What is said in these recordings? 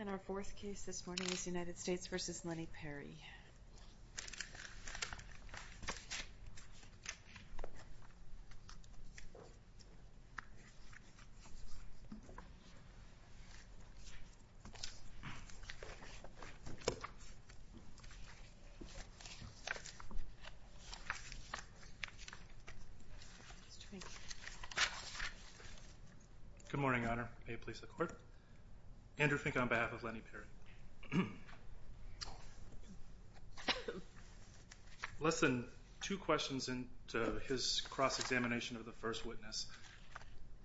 And our fourth case this morning is United States v. Lennie Perry Good morning, Your Honor. May it please the court. Andrew Fink on behalf of Lennie Perry. Less than two questions into his cross-examination of the first witness.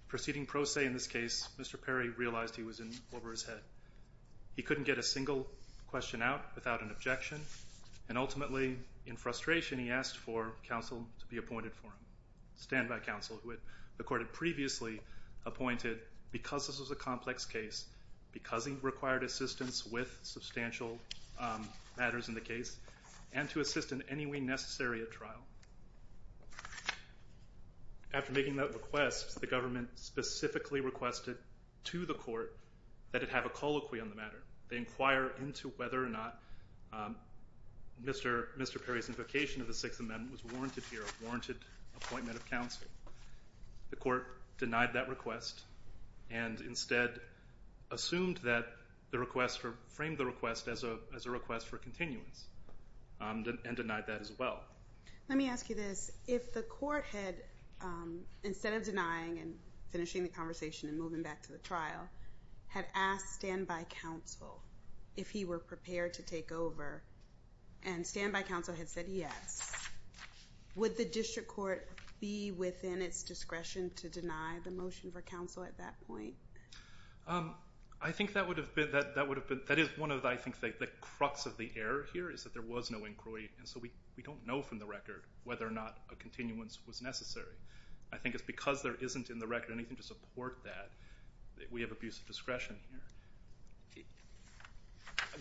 Proceeding pro se in this case, Mr. Perry realized he was in over his head. He couldn't get a single question out without an objection, and ultimately, in frustration, he asked for counsel to be appointed for him. Standby counsel, who the court had previously appointed because this was a complex case, because he required assistance with substantial matters in the case, and to assist in any way necessary at trial. After making that request, the government specifically requested to the court that it have a colloquy on the matter. They inquire into whether or not Mr. Perry's invocation of the Sixth Amendment was warranted here, a warranted appointment of counsel. The court denied that request and instead assumed that the request, framed the request as a request for continuance, and denied that as well. Let me ask you this. If the court had, instead of denying and finishing the conversation and moving back to the trial, had asked standby counsel if he were prepared to take over, and standby counsel had said yes, would the district court be within its discretion to deny the motion for counsel at that point? I think that is one of the crux of the error here, is that there was no inquiry, and so we don't know from the record whether or not a continuance was necessary. I think it's because there isn't in the record anything to support that, that we have abuse of discretion here.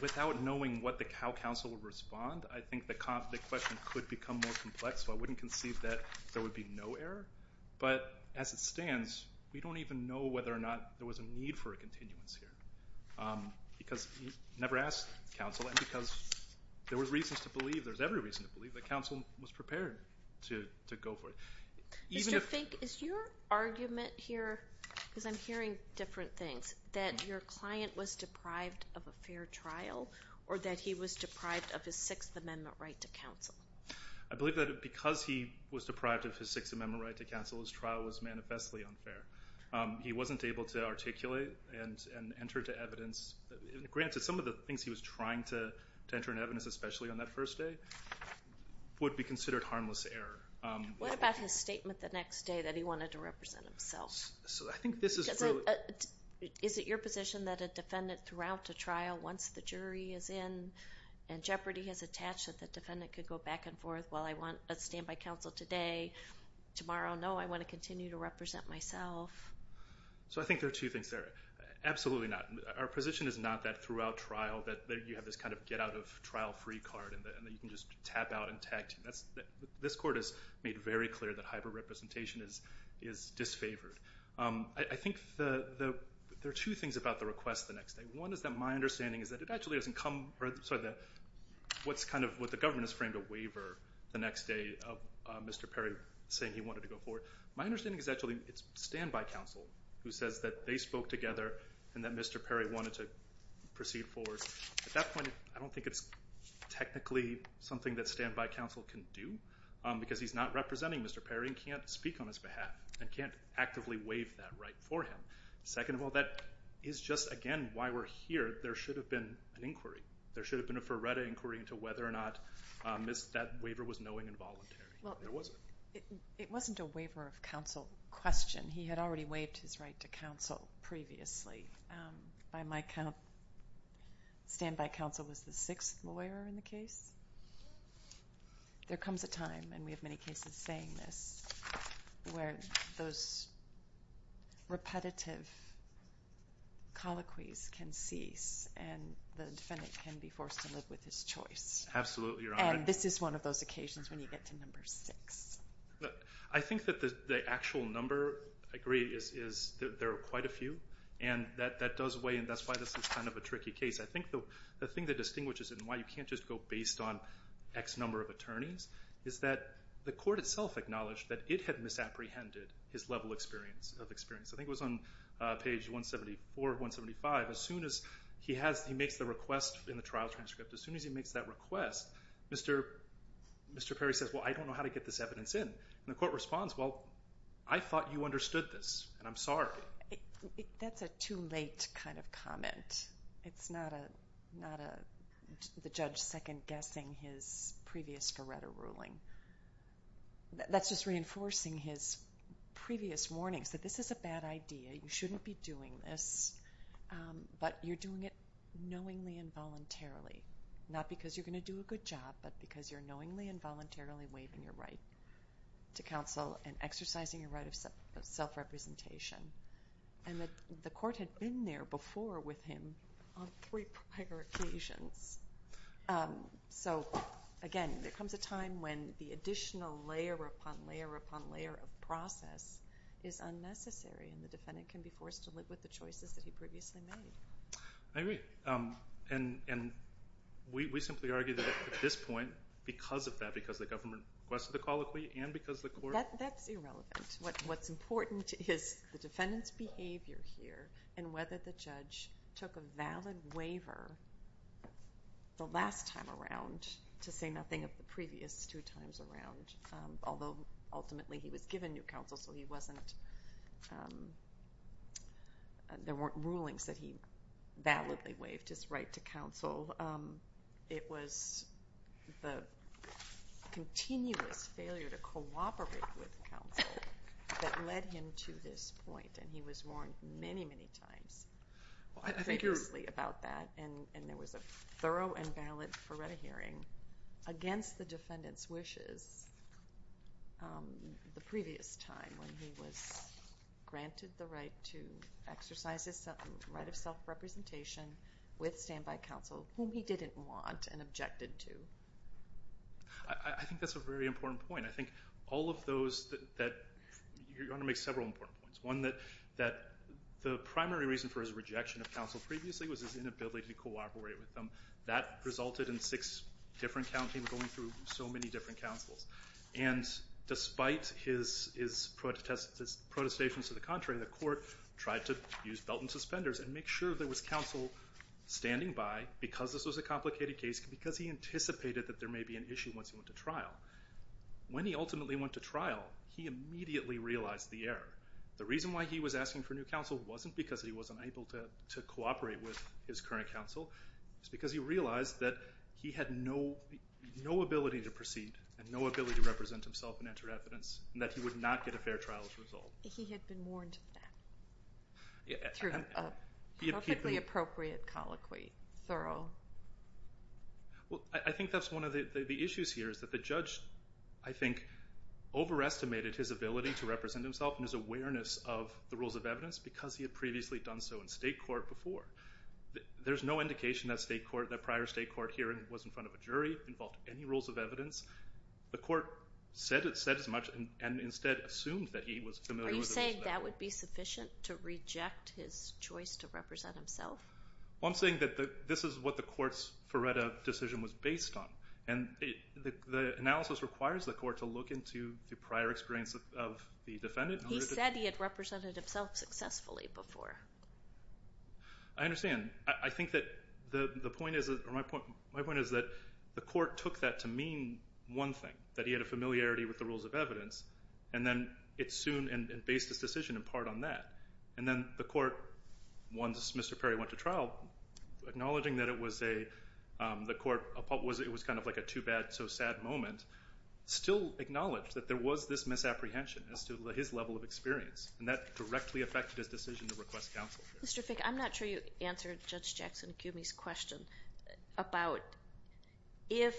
Without knowing how counsel would respond, I think the question could become more complex, so I wouldn't conceive that there would be no error, but as it stands, we don't even know whether or not there was a need for a continuance here. Because he never asked counsel, and because there were reasons to believe, there's every reason to believe, that counsel was prepared to go for it. Mr. Fink, is your argument here, because I'm hearing different things, that your client was deprived of a fair trial, or that he was deprived of his Sixth Amendment right to counsel? I believe that because he was deprived of his Sixth Amendment right to counsel, his trial was manifestly unfair. He wasn't able to articulate and enter into evidence. Granted, some of the things he was trying to enter into evidence, especially on that first day, would be considered harmless error. What about his statement the next day that he wanted to represent himself? Is it your position that a defendant throughout a trial, once the jury is in, and jeopardy has attached, that the defendant could go back and forth, while I want a standby counsel today, tomorrow, no, I want to continue to represent myself? I think there are two things there. Absolutely not. Our position is not that throughout trial, that you have this kind of get-out-of-trial-free card, and that you can just tap out and tag team. This court has made very clear that hyper-representation is disfavored. I think there are two things about the request the next day. One is that my understanding is that it actually doesn't come – what the government has framed a waiver the next day of Mr. Perry saying he wanted to go forward. My understanding is actually it's standby counsel who says that they spoke together, and that Mr. Perry wanted to proceed forward. At that point, I don't think it's technically something that standby counsel can do, because he's not representing Mr. Perry and can't speak on his behalf and can't actively waive that right for him. Second of all, that is just, again, why we're here. There should have been an inquiry. There should have been a Ferretta inquiry into whether or not that waiver was knowing and voluntary. It wasn't. You mentioned a waiver of counsel question. He had already waived his right to counsel previously. By my count, standby counsel was the sixth lawyer in the case. There comes a time, and we have many cases saying this, where those repetitive colloquies can cease, and the defendant can be forced to live with his choice. Absolutely, Your Honor. And this is one of those occasions when you get to number six. I think that the actual number, I agree, is there are quite a few, and that does weigh in. That's why this is kind of a tricky case. I think the thing that distinguishes it and why you can't just go based on X number of attorneys is that the court itself acknowledged that it had misapprehended his level of experience. I think it was on page 174 or 175. As soon as he makes the request in the trial transcript, as soon as he makes that request, Mr. Perry says, Well, I don't know how to get this evidence in. And the court responds, Well, I thought you understood this, and I'm sorry. That's a too late kind of comment. It's not the judge second-guessing his previous Coretta ruling. That's just reinforcing his previous warnings that this is a bad idea. You shouldn't be doing this, but you're doing it knowingly and voluntarily, not because you're going to do a good job, but because you're knowingly and voluntarily waiving your right to counsel and exercising your right of self-representation. And the court had been there before with him on three prior occasions. So, again, there comes a time when the additional layer upon layer upon layer of process is unnecessary, and the defendant can be forced to live with the choices that he previously made. I agree. And we simply argue that at this point, because of that, because of the government request for the call of plea and because of the court. That's irrelevant. What's important is the defendant's behavior here and whether the judge took a valid waiver the last time around to say nothing of the previous two times around, although ultimately he was given new counsel, there weren't rulings that he validly waived his right to counsel. It was the continuous failure to cooperate with counsel that led him to this point, and he was warned many, many times previously about that, and there was a thorough and valid Feretta hearing against the defendant's wishes the previous time when he was granted the right to exercise his right of self-representation with standby counsel, whom he didn't want and objected to. I think that's a very important point. I think all of those that you're going to make several important points. One, that the primary reason for his rejection of counsel previously was his inability to cooperate with them. That resulted in six different counties going through so many different counsels, and despite his protestations to the contrary, the court tried to use belt and suspenders and make sure there was counsel standing by because this was a complicated case, because he anticipated that there may be an issue once he went to trial. When he ultimately went to trial, he immediately realized the error. The reason why he was asking for new counsel wasn't because he wasn't able to cooperate with his current counsel. It was because he realized that he had no ability to proceed and no ability to represent himself and enter evidence and that he would not get a fair trial as a result. He had been warned of that through a perfectly appropriate colloquy, thorough. I think that's one of the issues here, is that the judge, I think, overestimated his ability to represent himself and his awareness of the rules of evidence because he had previously done so in state court before. There's no indication that prior state court hearing was in front of a jury, involved any rules of evidence. The court said it said as much and instead assumed that he was familiar with it. Are you saying that would be sufficient to reject his choice to represent himself? Well, I'm saying that this is what the court's Ferretta decision was based on, and the analysis requires the court to look into the prior experience of the defendant. He said he had represented himself successfully before. I understand. I think that the point is that the court took that to mean one thing, that he had a familiarity with the rules of evidence, and then it based its decision in part on that. And then the court, once Mr. Perry went to trial, acknowledging that it was kind of like a too-bad-so-sad moment, still acknowledged that there was this misapprehension as to his level of experience, and that directly affected his decision to request counsel. Mr. Fick, I'm not sure you answered Judge Jackson-Kumey's question about if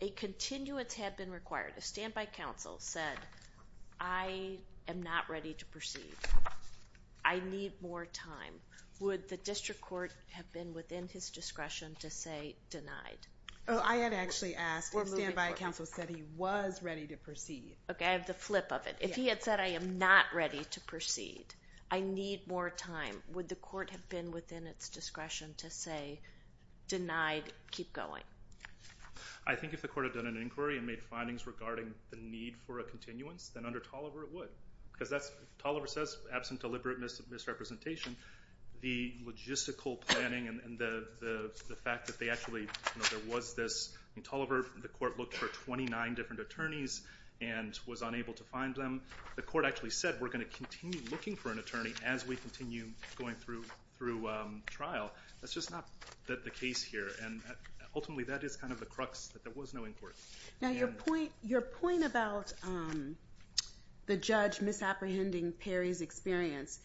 a continuance had been required, a standby counsel said, I am not ready to proceed. I need more time. Would the district court have been within his discretion to say denied? Oh, I had actually asked. A standby counsel said he was ready to proceed. Okay, I have the flip of it. If he had said I am not ready to proceed, I need more time, would the court have been within its discretion to say denied, keep going? I think if the court had done an inquiry and made findings regarding the need for a continuance, then under Tolliver it would. Because Tolliver says, absent deliberate misrepresentation, the logistical planning and the fact that they actually, there was this. In Tolliver, the court looked for 29 different attorneys and was unable to find them. The court actually said we're going to continue looking for an attorney as we continue going through trial. That's just not the case here, and ultimately that is kind of the crux that there was no inquiry. Now your point about the judge misapprehending Perry's experience,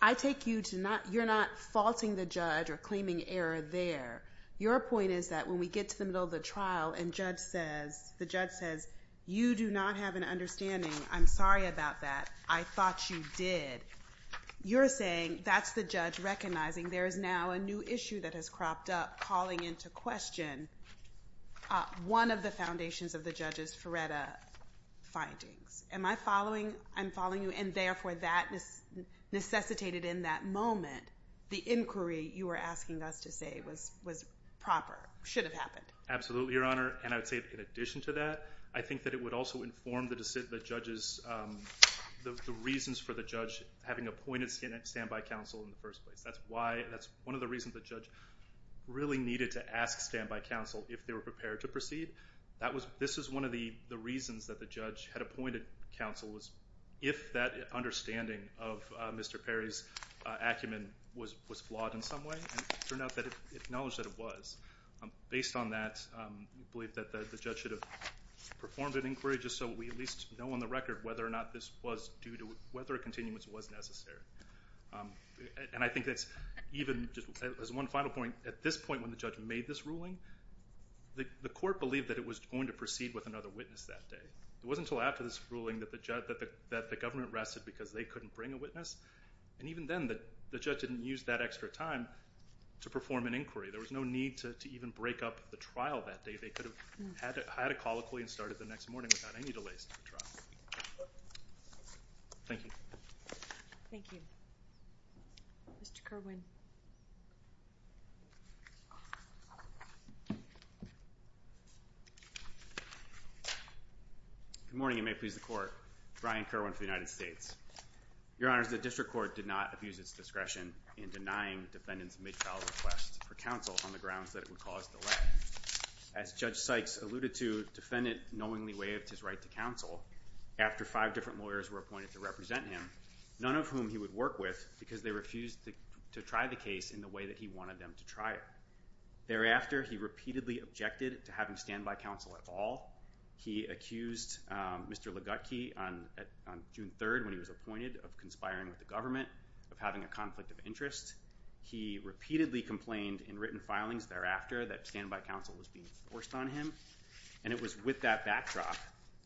I take you to not, you're not faulting the judge or claiming error there. Your point is that when we get to the middle of the trial and the judge says, you do not have an understanding, I'm sorry about that, I thought you did, you're saying that's the judge recognizing there is now a new issue that has cropped up, calling into question one of the foundations of the judge's Feretta findings. Am I following? I'm following you, and therefore that necessitated in that moment the inquiry you were asking us to say was proper, should have happened. Absolutely, Your Honor, and I would say in addition to that, I think that it would also inform the judge's, the reasons for the judge having appointed stand-by counsel in the first place. That's one of the reasons the judge really needed to ask stand-by counsel if they were prepared to proceed. This is one of the reasons that the judge had appointed counsel was if that understanding of Mr. Perry's acumen was flawed in some way, it turned out that it acknowledged that it was. Based on that, we believe that the judge should have performed an inquiry just so we at least know on the record whether or not this was due to, whether a continuance was necessary. And I think that's even, as one final point, at this point when the judge made this ruling, the court believed that it was going to proceed with another witness that day. It wasn't until after this ruling that the government rested because they couldn't bring a witness, and even then the judge didn't use that extra time to perform an inquiry. There was no need to even break up the trial that day. They could have had a call quickly and started the next morning without any delays to the trial. Thank you. Thank you. Mr. Kerwin. Good morning, and may it please the Court. Brian Kerwin for the United States. Your Honors, the district court did not abuse its discretion in denying defendant's mid-trial request for counsel on the grounds that it would cause delay. As Judge Sykes alluded to, defendant knowingly waived his right to counsel after five different lawyers were appointed to represent him, none of whom he would work with because they refused to try the case in the way that he wanted them to try it. Thereafter, he repeatedly objected to having standby counsel at all. He accused Mr. Ligutke on June 3rd when he was appointed of conspiring with the government, of having a conflict of interest. He repeatedly complained in written filings thereafter that standby counsel was being forced on him, and it was with that backdrop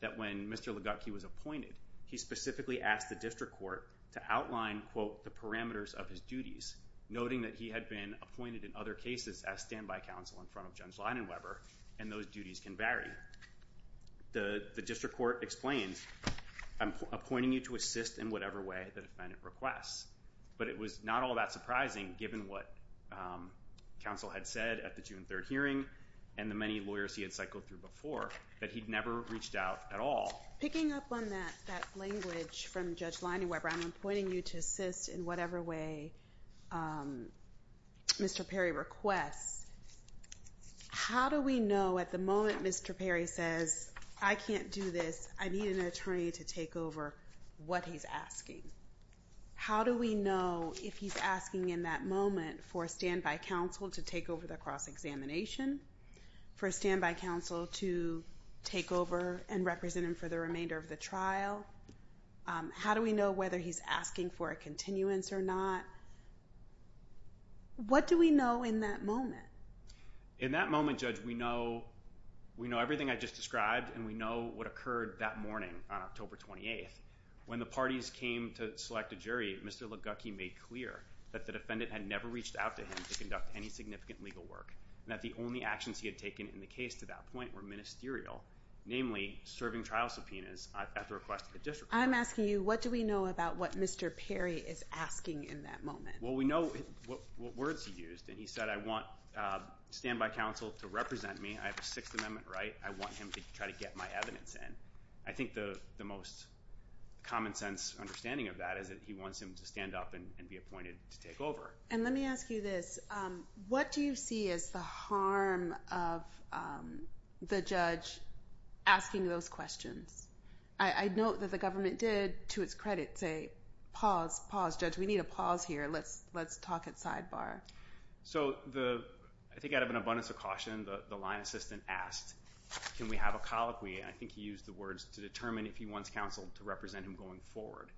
that when Mr. Ligutke was appointed, he specifically asked the district court to outline, quote, the parameters of his duties, noting that he had been appointed in other cases as standby counsel in front of Judge Leidenweber, and those duties can vary. The district court explained, I'm appointing you to assist in whatever way the defendant requests. But it was not all that surprising, given what counsel had said at the June 3rd hearing and the many lawyers he had cycled through before, that he'd never reached out at all. Picking up on that language from Judge Leidenweber, I'm appointing you to assist in whatever way Mr. Perry requests. How do we know at the moment Mr. Perry says, I can't do this, I need an attorney to take over what he's asking? How do we know if he's asking in that moment for a standby counsel to take over the cross-examination, for a standby counsel to take over and represent him for the remainder of the trial? How do we know whether he's asking for a continuance or not? What do we know in that moment? In that moment, Judge, we know everything I just described and we know what occurred that morning on October 28th. When the parties came to select a jury, Mr. Ligucki made clear that the defendant had never reached out to him to conduct any significant legal work and that the only actions he had taken in the case to that point were ministerial, namely serving trial subpoenas at the request of the district court. I'm asking you, what do we know about what Mr. Perry is asking in that moment? Well, we know what words he used, and he said, I want standby counsel to represent me. I have a Sixth Amendment right. I want him to try to get my evidence in. I think the most common sense understanding of that is that he wants him to stand up and be appointed to take over. And let me ask you this. What do you see as the harm of the judge asking those questions? I note that the government did, to its credit, say, pause, pause, judge, we need a pause here. Let's talk at sidebar. So I think out of an abundance of caution, the line assistant asked, can we have a colloquy? And I think he used the words to determine if he wants counsel to represent him going forward.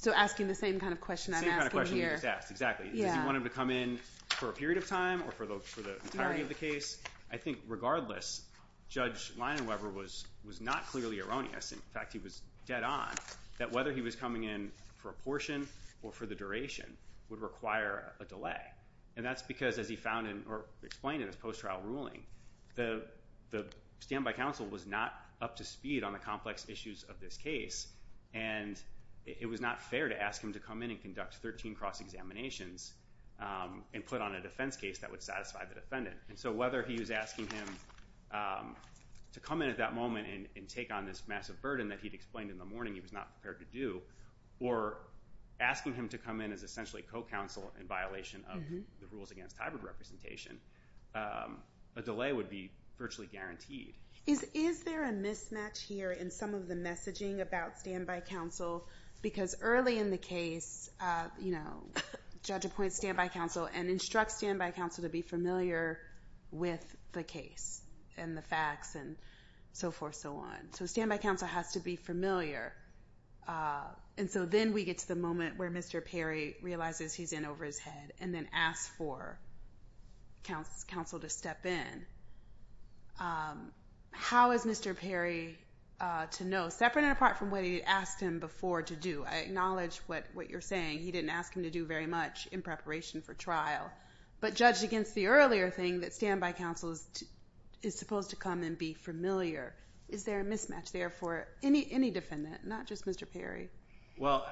So asking the same kind of question I'm asking here. The same kind of question we just asked, exactly. Does he want him to come in for a period of time or for the entirety of the case? I think regardless, Judge Leinenweber was not clearly erroneous. In fact, he was dead on that whether he was coming in for a portion or for the duration would require a delay. And that's because, as he found in or explained in his post-trial ruling, the standby counsel was not up to speed on the complex issues of this case. And it was not fair to ask him to come in and conduct 13 cross-examinations and put on a defense case that would satisfy the defendant. And so whether he was asking him to come in at that moment and take on this massive burden that he'd explained in the morning he was not prepared to do, or asking him to come in as essentially co-counsel in violation of the rules against hybrid representation, a delay would be virtually guaranteed. Is there a mismatch here in some of the messaging about standby counsel? Because early in the case, Judge appoints standby counsel and instructs standby counsel to be familiar with the case and the facts and so forth and so on. So standby counsel has to be familiar. And so then we get to the moment where Mr. Perry realizes he's in over his head and then asks for counsel to step in. How is Mr. Perry to know? Separate and apart from what he had asked him before to do. I acknowledge what you're saying. He didn't ask him to do very much in preparation for trial. But judged against the earlier thing that standby counsel is supposed to come and be familiar. Is there a mismatch there for any defendant, not just Mr. Perry? Well,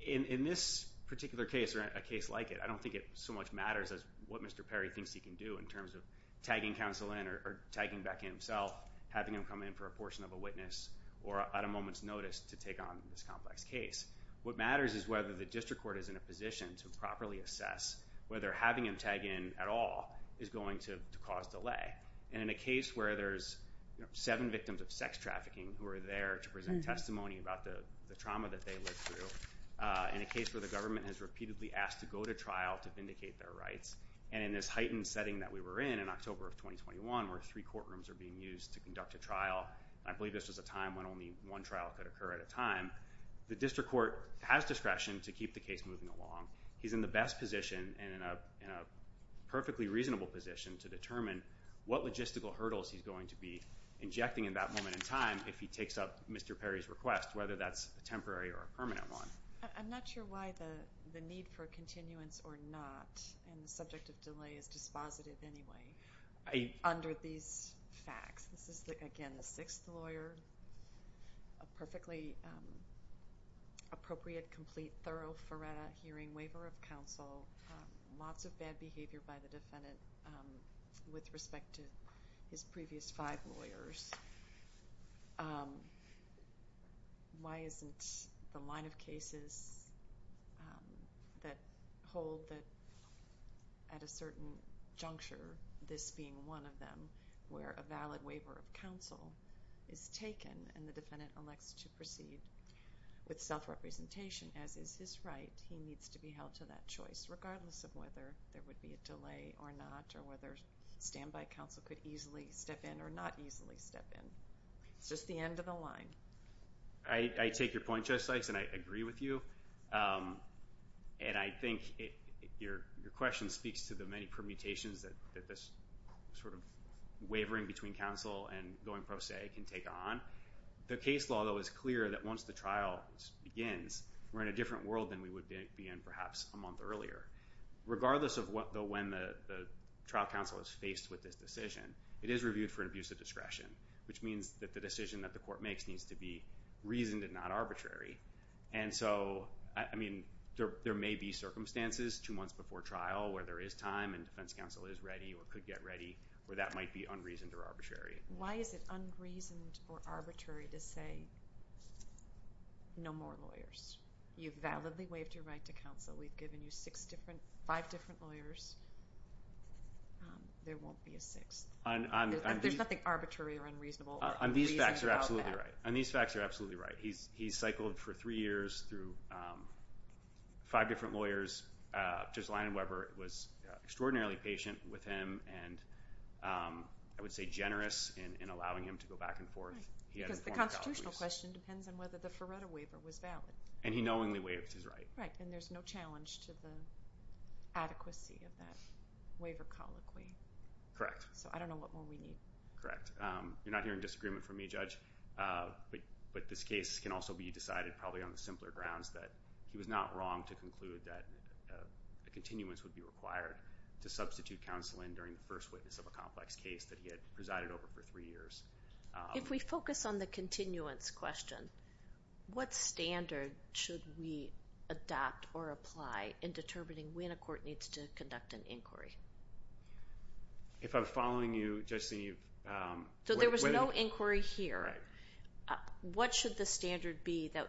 in this particular case or a case like it, I don't think it so much matters as what Mr. Perry thinks he can do in terms of tagging counsel in or tagging back himself, having him come in for a portion of a witness or at a moment's notice to take on this complex case. What matters is whether the district court is in a position to properly assess whether having him tag in at all is going to cause delay. And in a case where there's seven victims of sex trafficking who are there to present testimony about the trauma that they lived through, in a case where the government has repeatedly asked to go to trial to vindicate their rights, and in this heightened setting that we were in in October of 2021 where three courtrooms are being used to conduct a trial, I believe this was a time when only one trial could occur at a time, the district court has discretion to keep the case moving along. He's in the best position and in a perfectly reasonable position to determine what logistical hurdles he's going to be injecting in that moment in time if he takes up Mr. Perry's request, whether that's a temporary or a permanent one. I'm not sure why the need for continuance or not, and the subject of delay is dispositive anyway, under these facts. This is, again, the sixth lawyer. A perfectly appropriate, complete, thorough, thorough hearing waiver of counsel. Lots of bad behavior by the defendant with respect to his previous five lawyers. Why isn't the line of cases that hold that at a certain juncture, this being one of them, where a valid waiver of counsel is taken and the defendant elects to proceed with self-representation, as is his right, he needs to be held to that choice, regardless of whether there would be a delay or not, or whether standby counsel could easily step in or not easily step in. It's just the end of the line. I take your point, Judge Sykes, and I agree with you, and I think your question speaks to the many permutations that this sort of wavering between counsel and going pro se can take on. The case law, though, is clear that once the trial begins, we're in a different world than we would be in perhaps a month earlier. Regardless of when the trial counsel is faced with this decision, it is reviewed for an abuse of discretion, which means that the decision that the court makes needs to be reasoned and not arbitrary. And so, I mean, there may be circumstances two months before trial where there is time and defense counsel is ready or could get ready where that might be unreasoned or arbitrary. Why is it unreasoned or arbitrary to say no more lawyers? You've validly waived your right to counsel. We've given you five different lawyers. There won't be a sixth. There's nothing arbitrary or unreasonable or unreasonable about that. On these facts, you're absolutely right. He cycled for three years through five different lawyers. Judge Linen-Weber was extraordinarily patient with him and I would say generous in allowing him to go back and forth. Because the constitutional question depends on whether the Feretta waiver was valid. And he knowingly waived his right. Right, and there's no challenge to the adequacy of that waiver colloquy. Correct. So I don't know what more we need. Correct. You're not hearing disagreement from me, Judge. But this case can also be decided probably on the simpler grounds that he was not wrong to conclude that a continuance would be required to substitute counsel in during the first witness of a complex case that he had presided over for three years. If we focus on the continuance question, what standard should we adopt or apply in determining when a court needs to conduct an inquiry? If I'm following you, Judge Senior, you've… So there was no inquiry here. What should the standard be that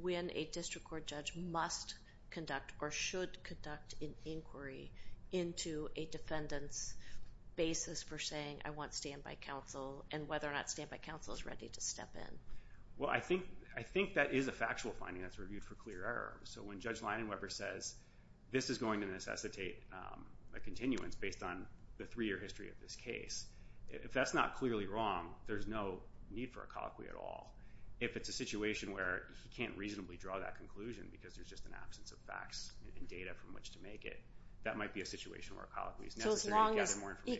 when a district court judge must conduct or should conduct an inquiry into a defendant's basis for saying, I want standby counsel and whether or not standby counsel is ready to step in? Well, I think that is a factual finding that's reviewed for clear error. So when Judge Linen-Weber says, this is going to necessitate a continuance based on the three-year history of this case, if that's not clearly wrong, there's no need for a colloquy at all. If it's a situation where he can't reasonably draw that conclusion because there's just an absence of facts and data from which to make it, that might be a situation where a colloquy is necessary to gather more information. So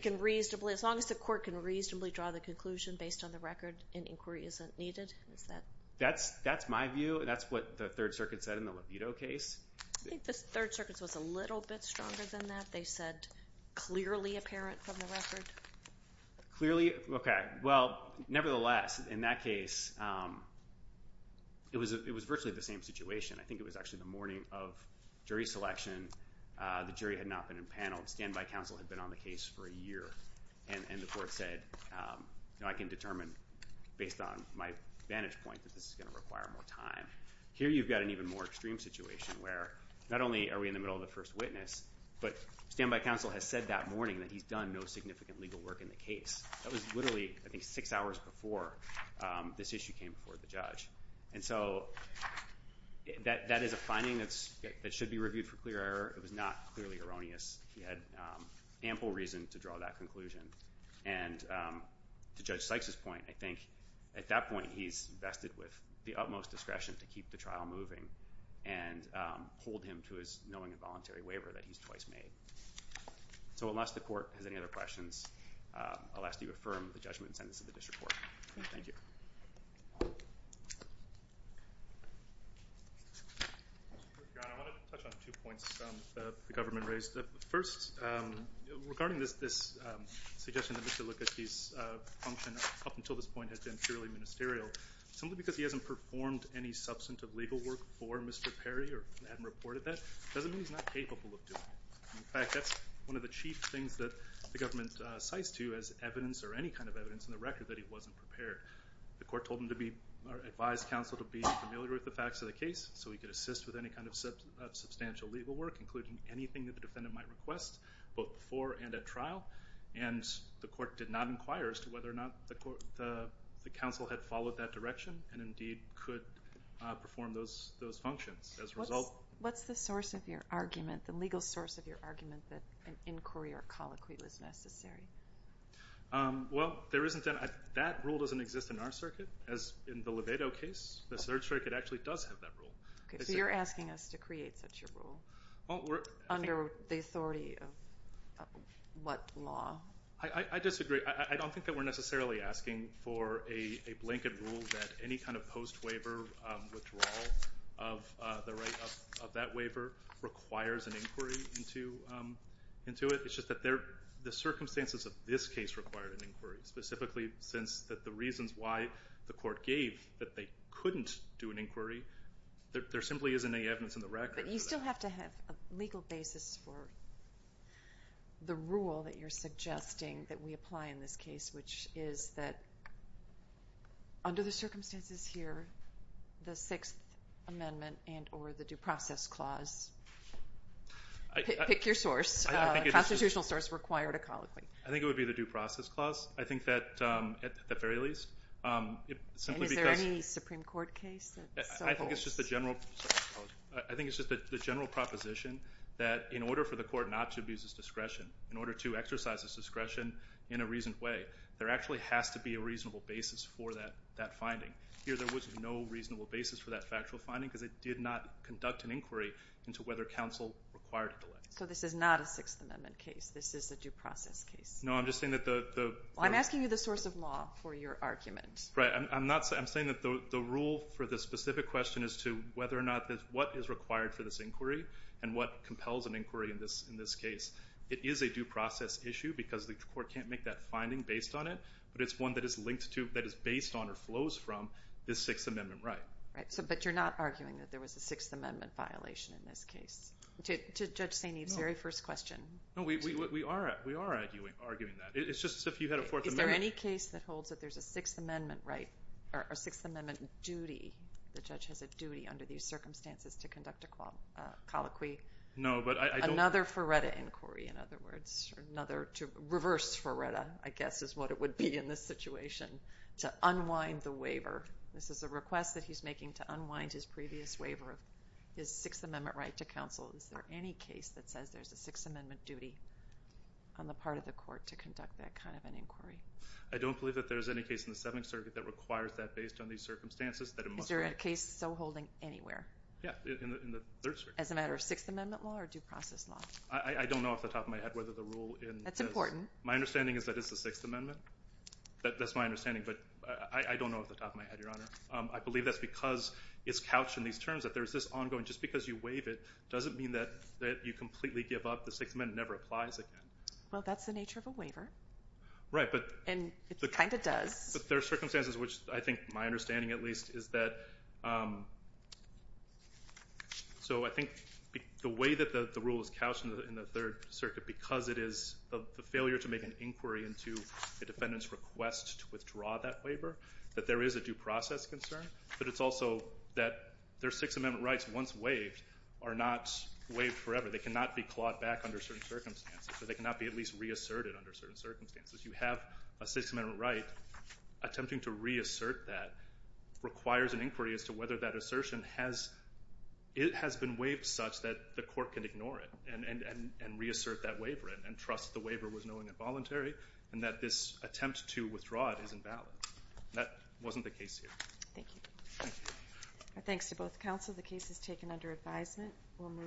as long as the court can reasonably draw the conclusion based on the record, an inquiry isn't needed? That's my view, and that's what the Third Circuit said in the Levito case. I think the Third Circuit was a little bit stronger than that. They said clearly apparent from the record. Clearly? Okay. Well, nevertheless, in that case, it was virtually the same situation. I think it was actually the morning of jury selection. The jury had not been in panel. Standby counsel had been on the case for a year, and the court said, I can determine based on my vantage point that this is going to require more time. Here you've got an even more extreme situation where not only are we in the middle of the first witness, but standby counsel has said that morning that he's done no significant legal work in the case. That was literally, I think, six hours before this issue came before the judge. And so that is a finding that should be reviewed for clear error. It was not clearly erroneous. He had ample reason to draw that conclusion. And to Judge Sykes' point, I think at that point, he's vested with the utmost discretion to keep the trial moving and hold him to his knowing and voluntary waiver that he's twice made. So unless the court has any other questions, I'll ask that you affirm the judgment and sentence of the district court. Thank you. I want to touch on two points that the government raised. First, regarding this suggestion that Mr. Lucchetti's function up until this point has been purely ministerial, simply because he hasn't performed any substantive legal work for Mr. Perry or hadn't reported that doesn't mean he's not capable of doing it. In fact, that's one of the chief things that the government cites to as evidence or any kind of evidence in the record that he wasn't prepared. The court advised counsel to be familiar with the facts of the case so he could assist with any kind of substantial legal work, including anything that the defendant might request both before and at trial. And the court did not inquire as to whether or not the counsel had followed that direction and indeed could perform those functions. What's the source of your argument, the legal source of your argument, that an inquiry or colloquy was necessary? Well, that rule doesn't exist in our circuit. As in the Levado case, the Third Circuit actually does have that rule. So you're asking us to create such a rule under the authority of what law? I disagree. I don't think that we're necessarily asking for a blanket rule that any kind of post-waiver withdrawal of the right of that waiver requires an inquiry into it. It's just that the circumstances of this case required an inquiry, specifically since the reasons why the court gave that they couldn't do an inquiry, there simply isn't any evidence in the record. But you still have to have a legal basis for the rule that you're suggesting that we apply in this case, which is that under the circumstances here, the Sixth Amendment and or the Due Process Clause. Pick your source. A constitutional source required a colloquy. I think it would be the Due Process Clause. I think that at the very least. And is there any Supreme Court case? I think it's just the general proposition that in order for the court not to abuse its discretion, in order to exercise its discretion in a reasoned way, there actually has to be a reasonable basis for that finding. Here there was no reasonable basis for that factual finding because it did not conduct an inquiry into whether counsel required it. So this is not a Sixth Amendment case. This is a due process case. No, I'm just saying that the rule for the specific question is to whether or not what is required for this inquiry and what compels an inquiry in this case. It is a due process issue because the court can't make that finding based on it, but it's one that is based on or flows from this Sixth Amendment right. But you're not arguing that there was a Sixth Amendment violation in this case? To Judge St. Eve's very first question. No, we are arguing that. It's just as if you had a Fourth Amendment. Is there any case that holds that there's a Sixth Amendment right or a Sixth Amendment duty, the judge has a duty under these circumstances to conduct a colloquy? No, but I don't. Another Ferretta inquiry, in other words. Another reverse Ferretta, I guess, is what it would be in this situation, to unwind the waiver. This is a request that he's making to unwind his previous waiver, his Sixth Amendment right to counsel. Is there any case that says there's a Sixth Amendment duty on the part of the court to conduct that kind of an inquiry? I don't believe that there's any case in the Seventh Circuit that requires that based on these circumstances. Is there a case still holding anywhere? Yeah, in the Third Circuit. As a matter of Sixth Amendment law or due process law? I don't know off the top of my head whether the rule in this. That's important. My understanding is that it's the Sixth Amendment. That's my understanding, but I don't know off the top of my head, Your Honor. I believe that's because it's couched in these terms, that there's this ongoing. Just because you waive it doesn't mean that you completely give up. The Sixth Amendment never applies again. Well, that's the nature of a waiver. Right. And it kind of does. But there are circumstances which I think my understanding, at least, is that I think the way that the rule is couched in the Third Circuit because it is the failure to make an inquiry into the defendant's request to withdraw that waiver, that there is a due process concern, but it's also that their Sixth Amendment rights, once waived, are not waived forever. They cannot be clawed back under certain circumstances, or they cannot be at least reasserted under certain circumstances. You have a Sixth Amendment right. Attempting to reassert that requires an inquiry as to whether that assertion has been waived such that the court can ignore it and reassert that waiver and trust the waiver was known involuntary and that this attempt to withdraw it is invalid. That wasn't the case here. Thank you. Thanks to both counsel. The case is taken under advisement.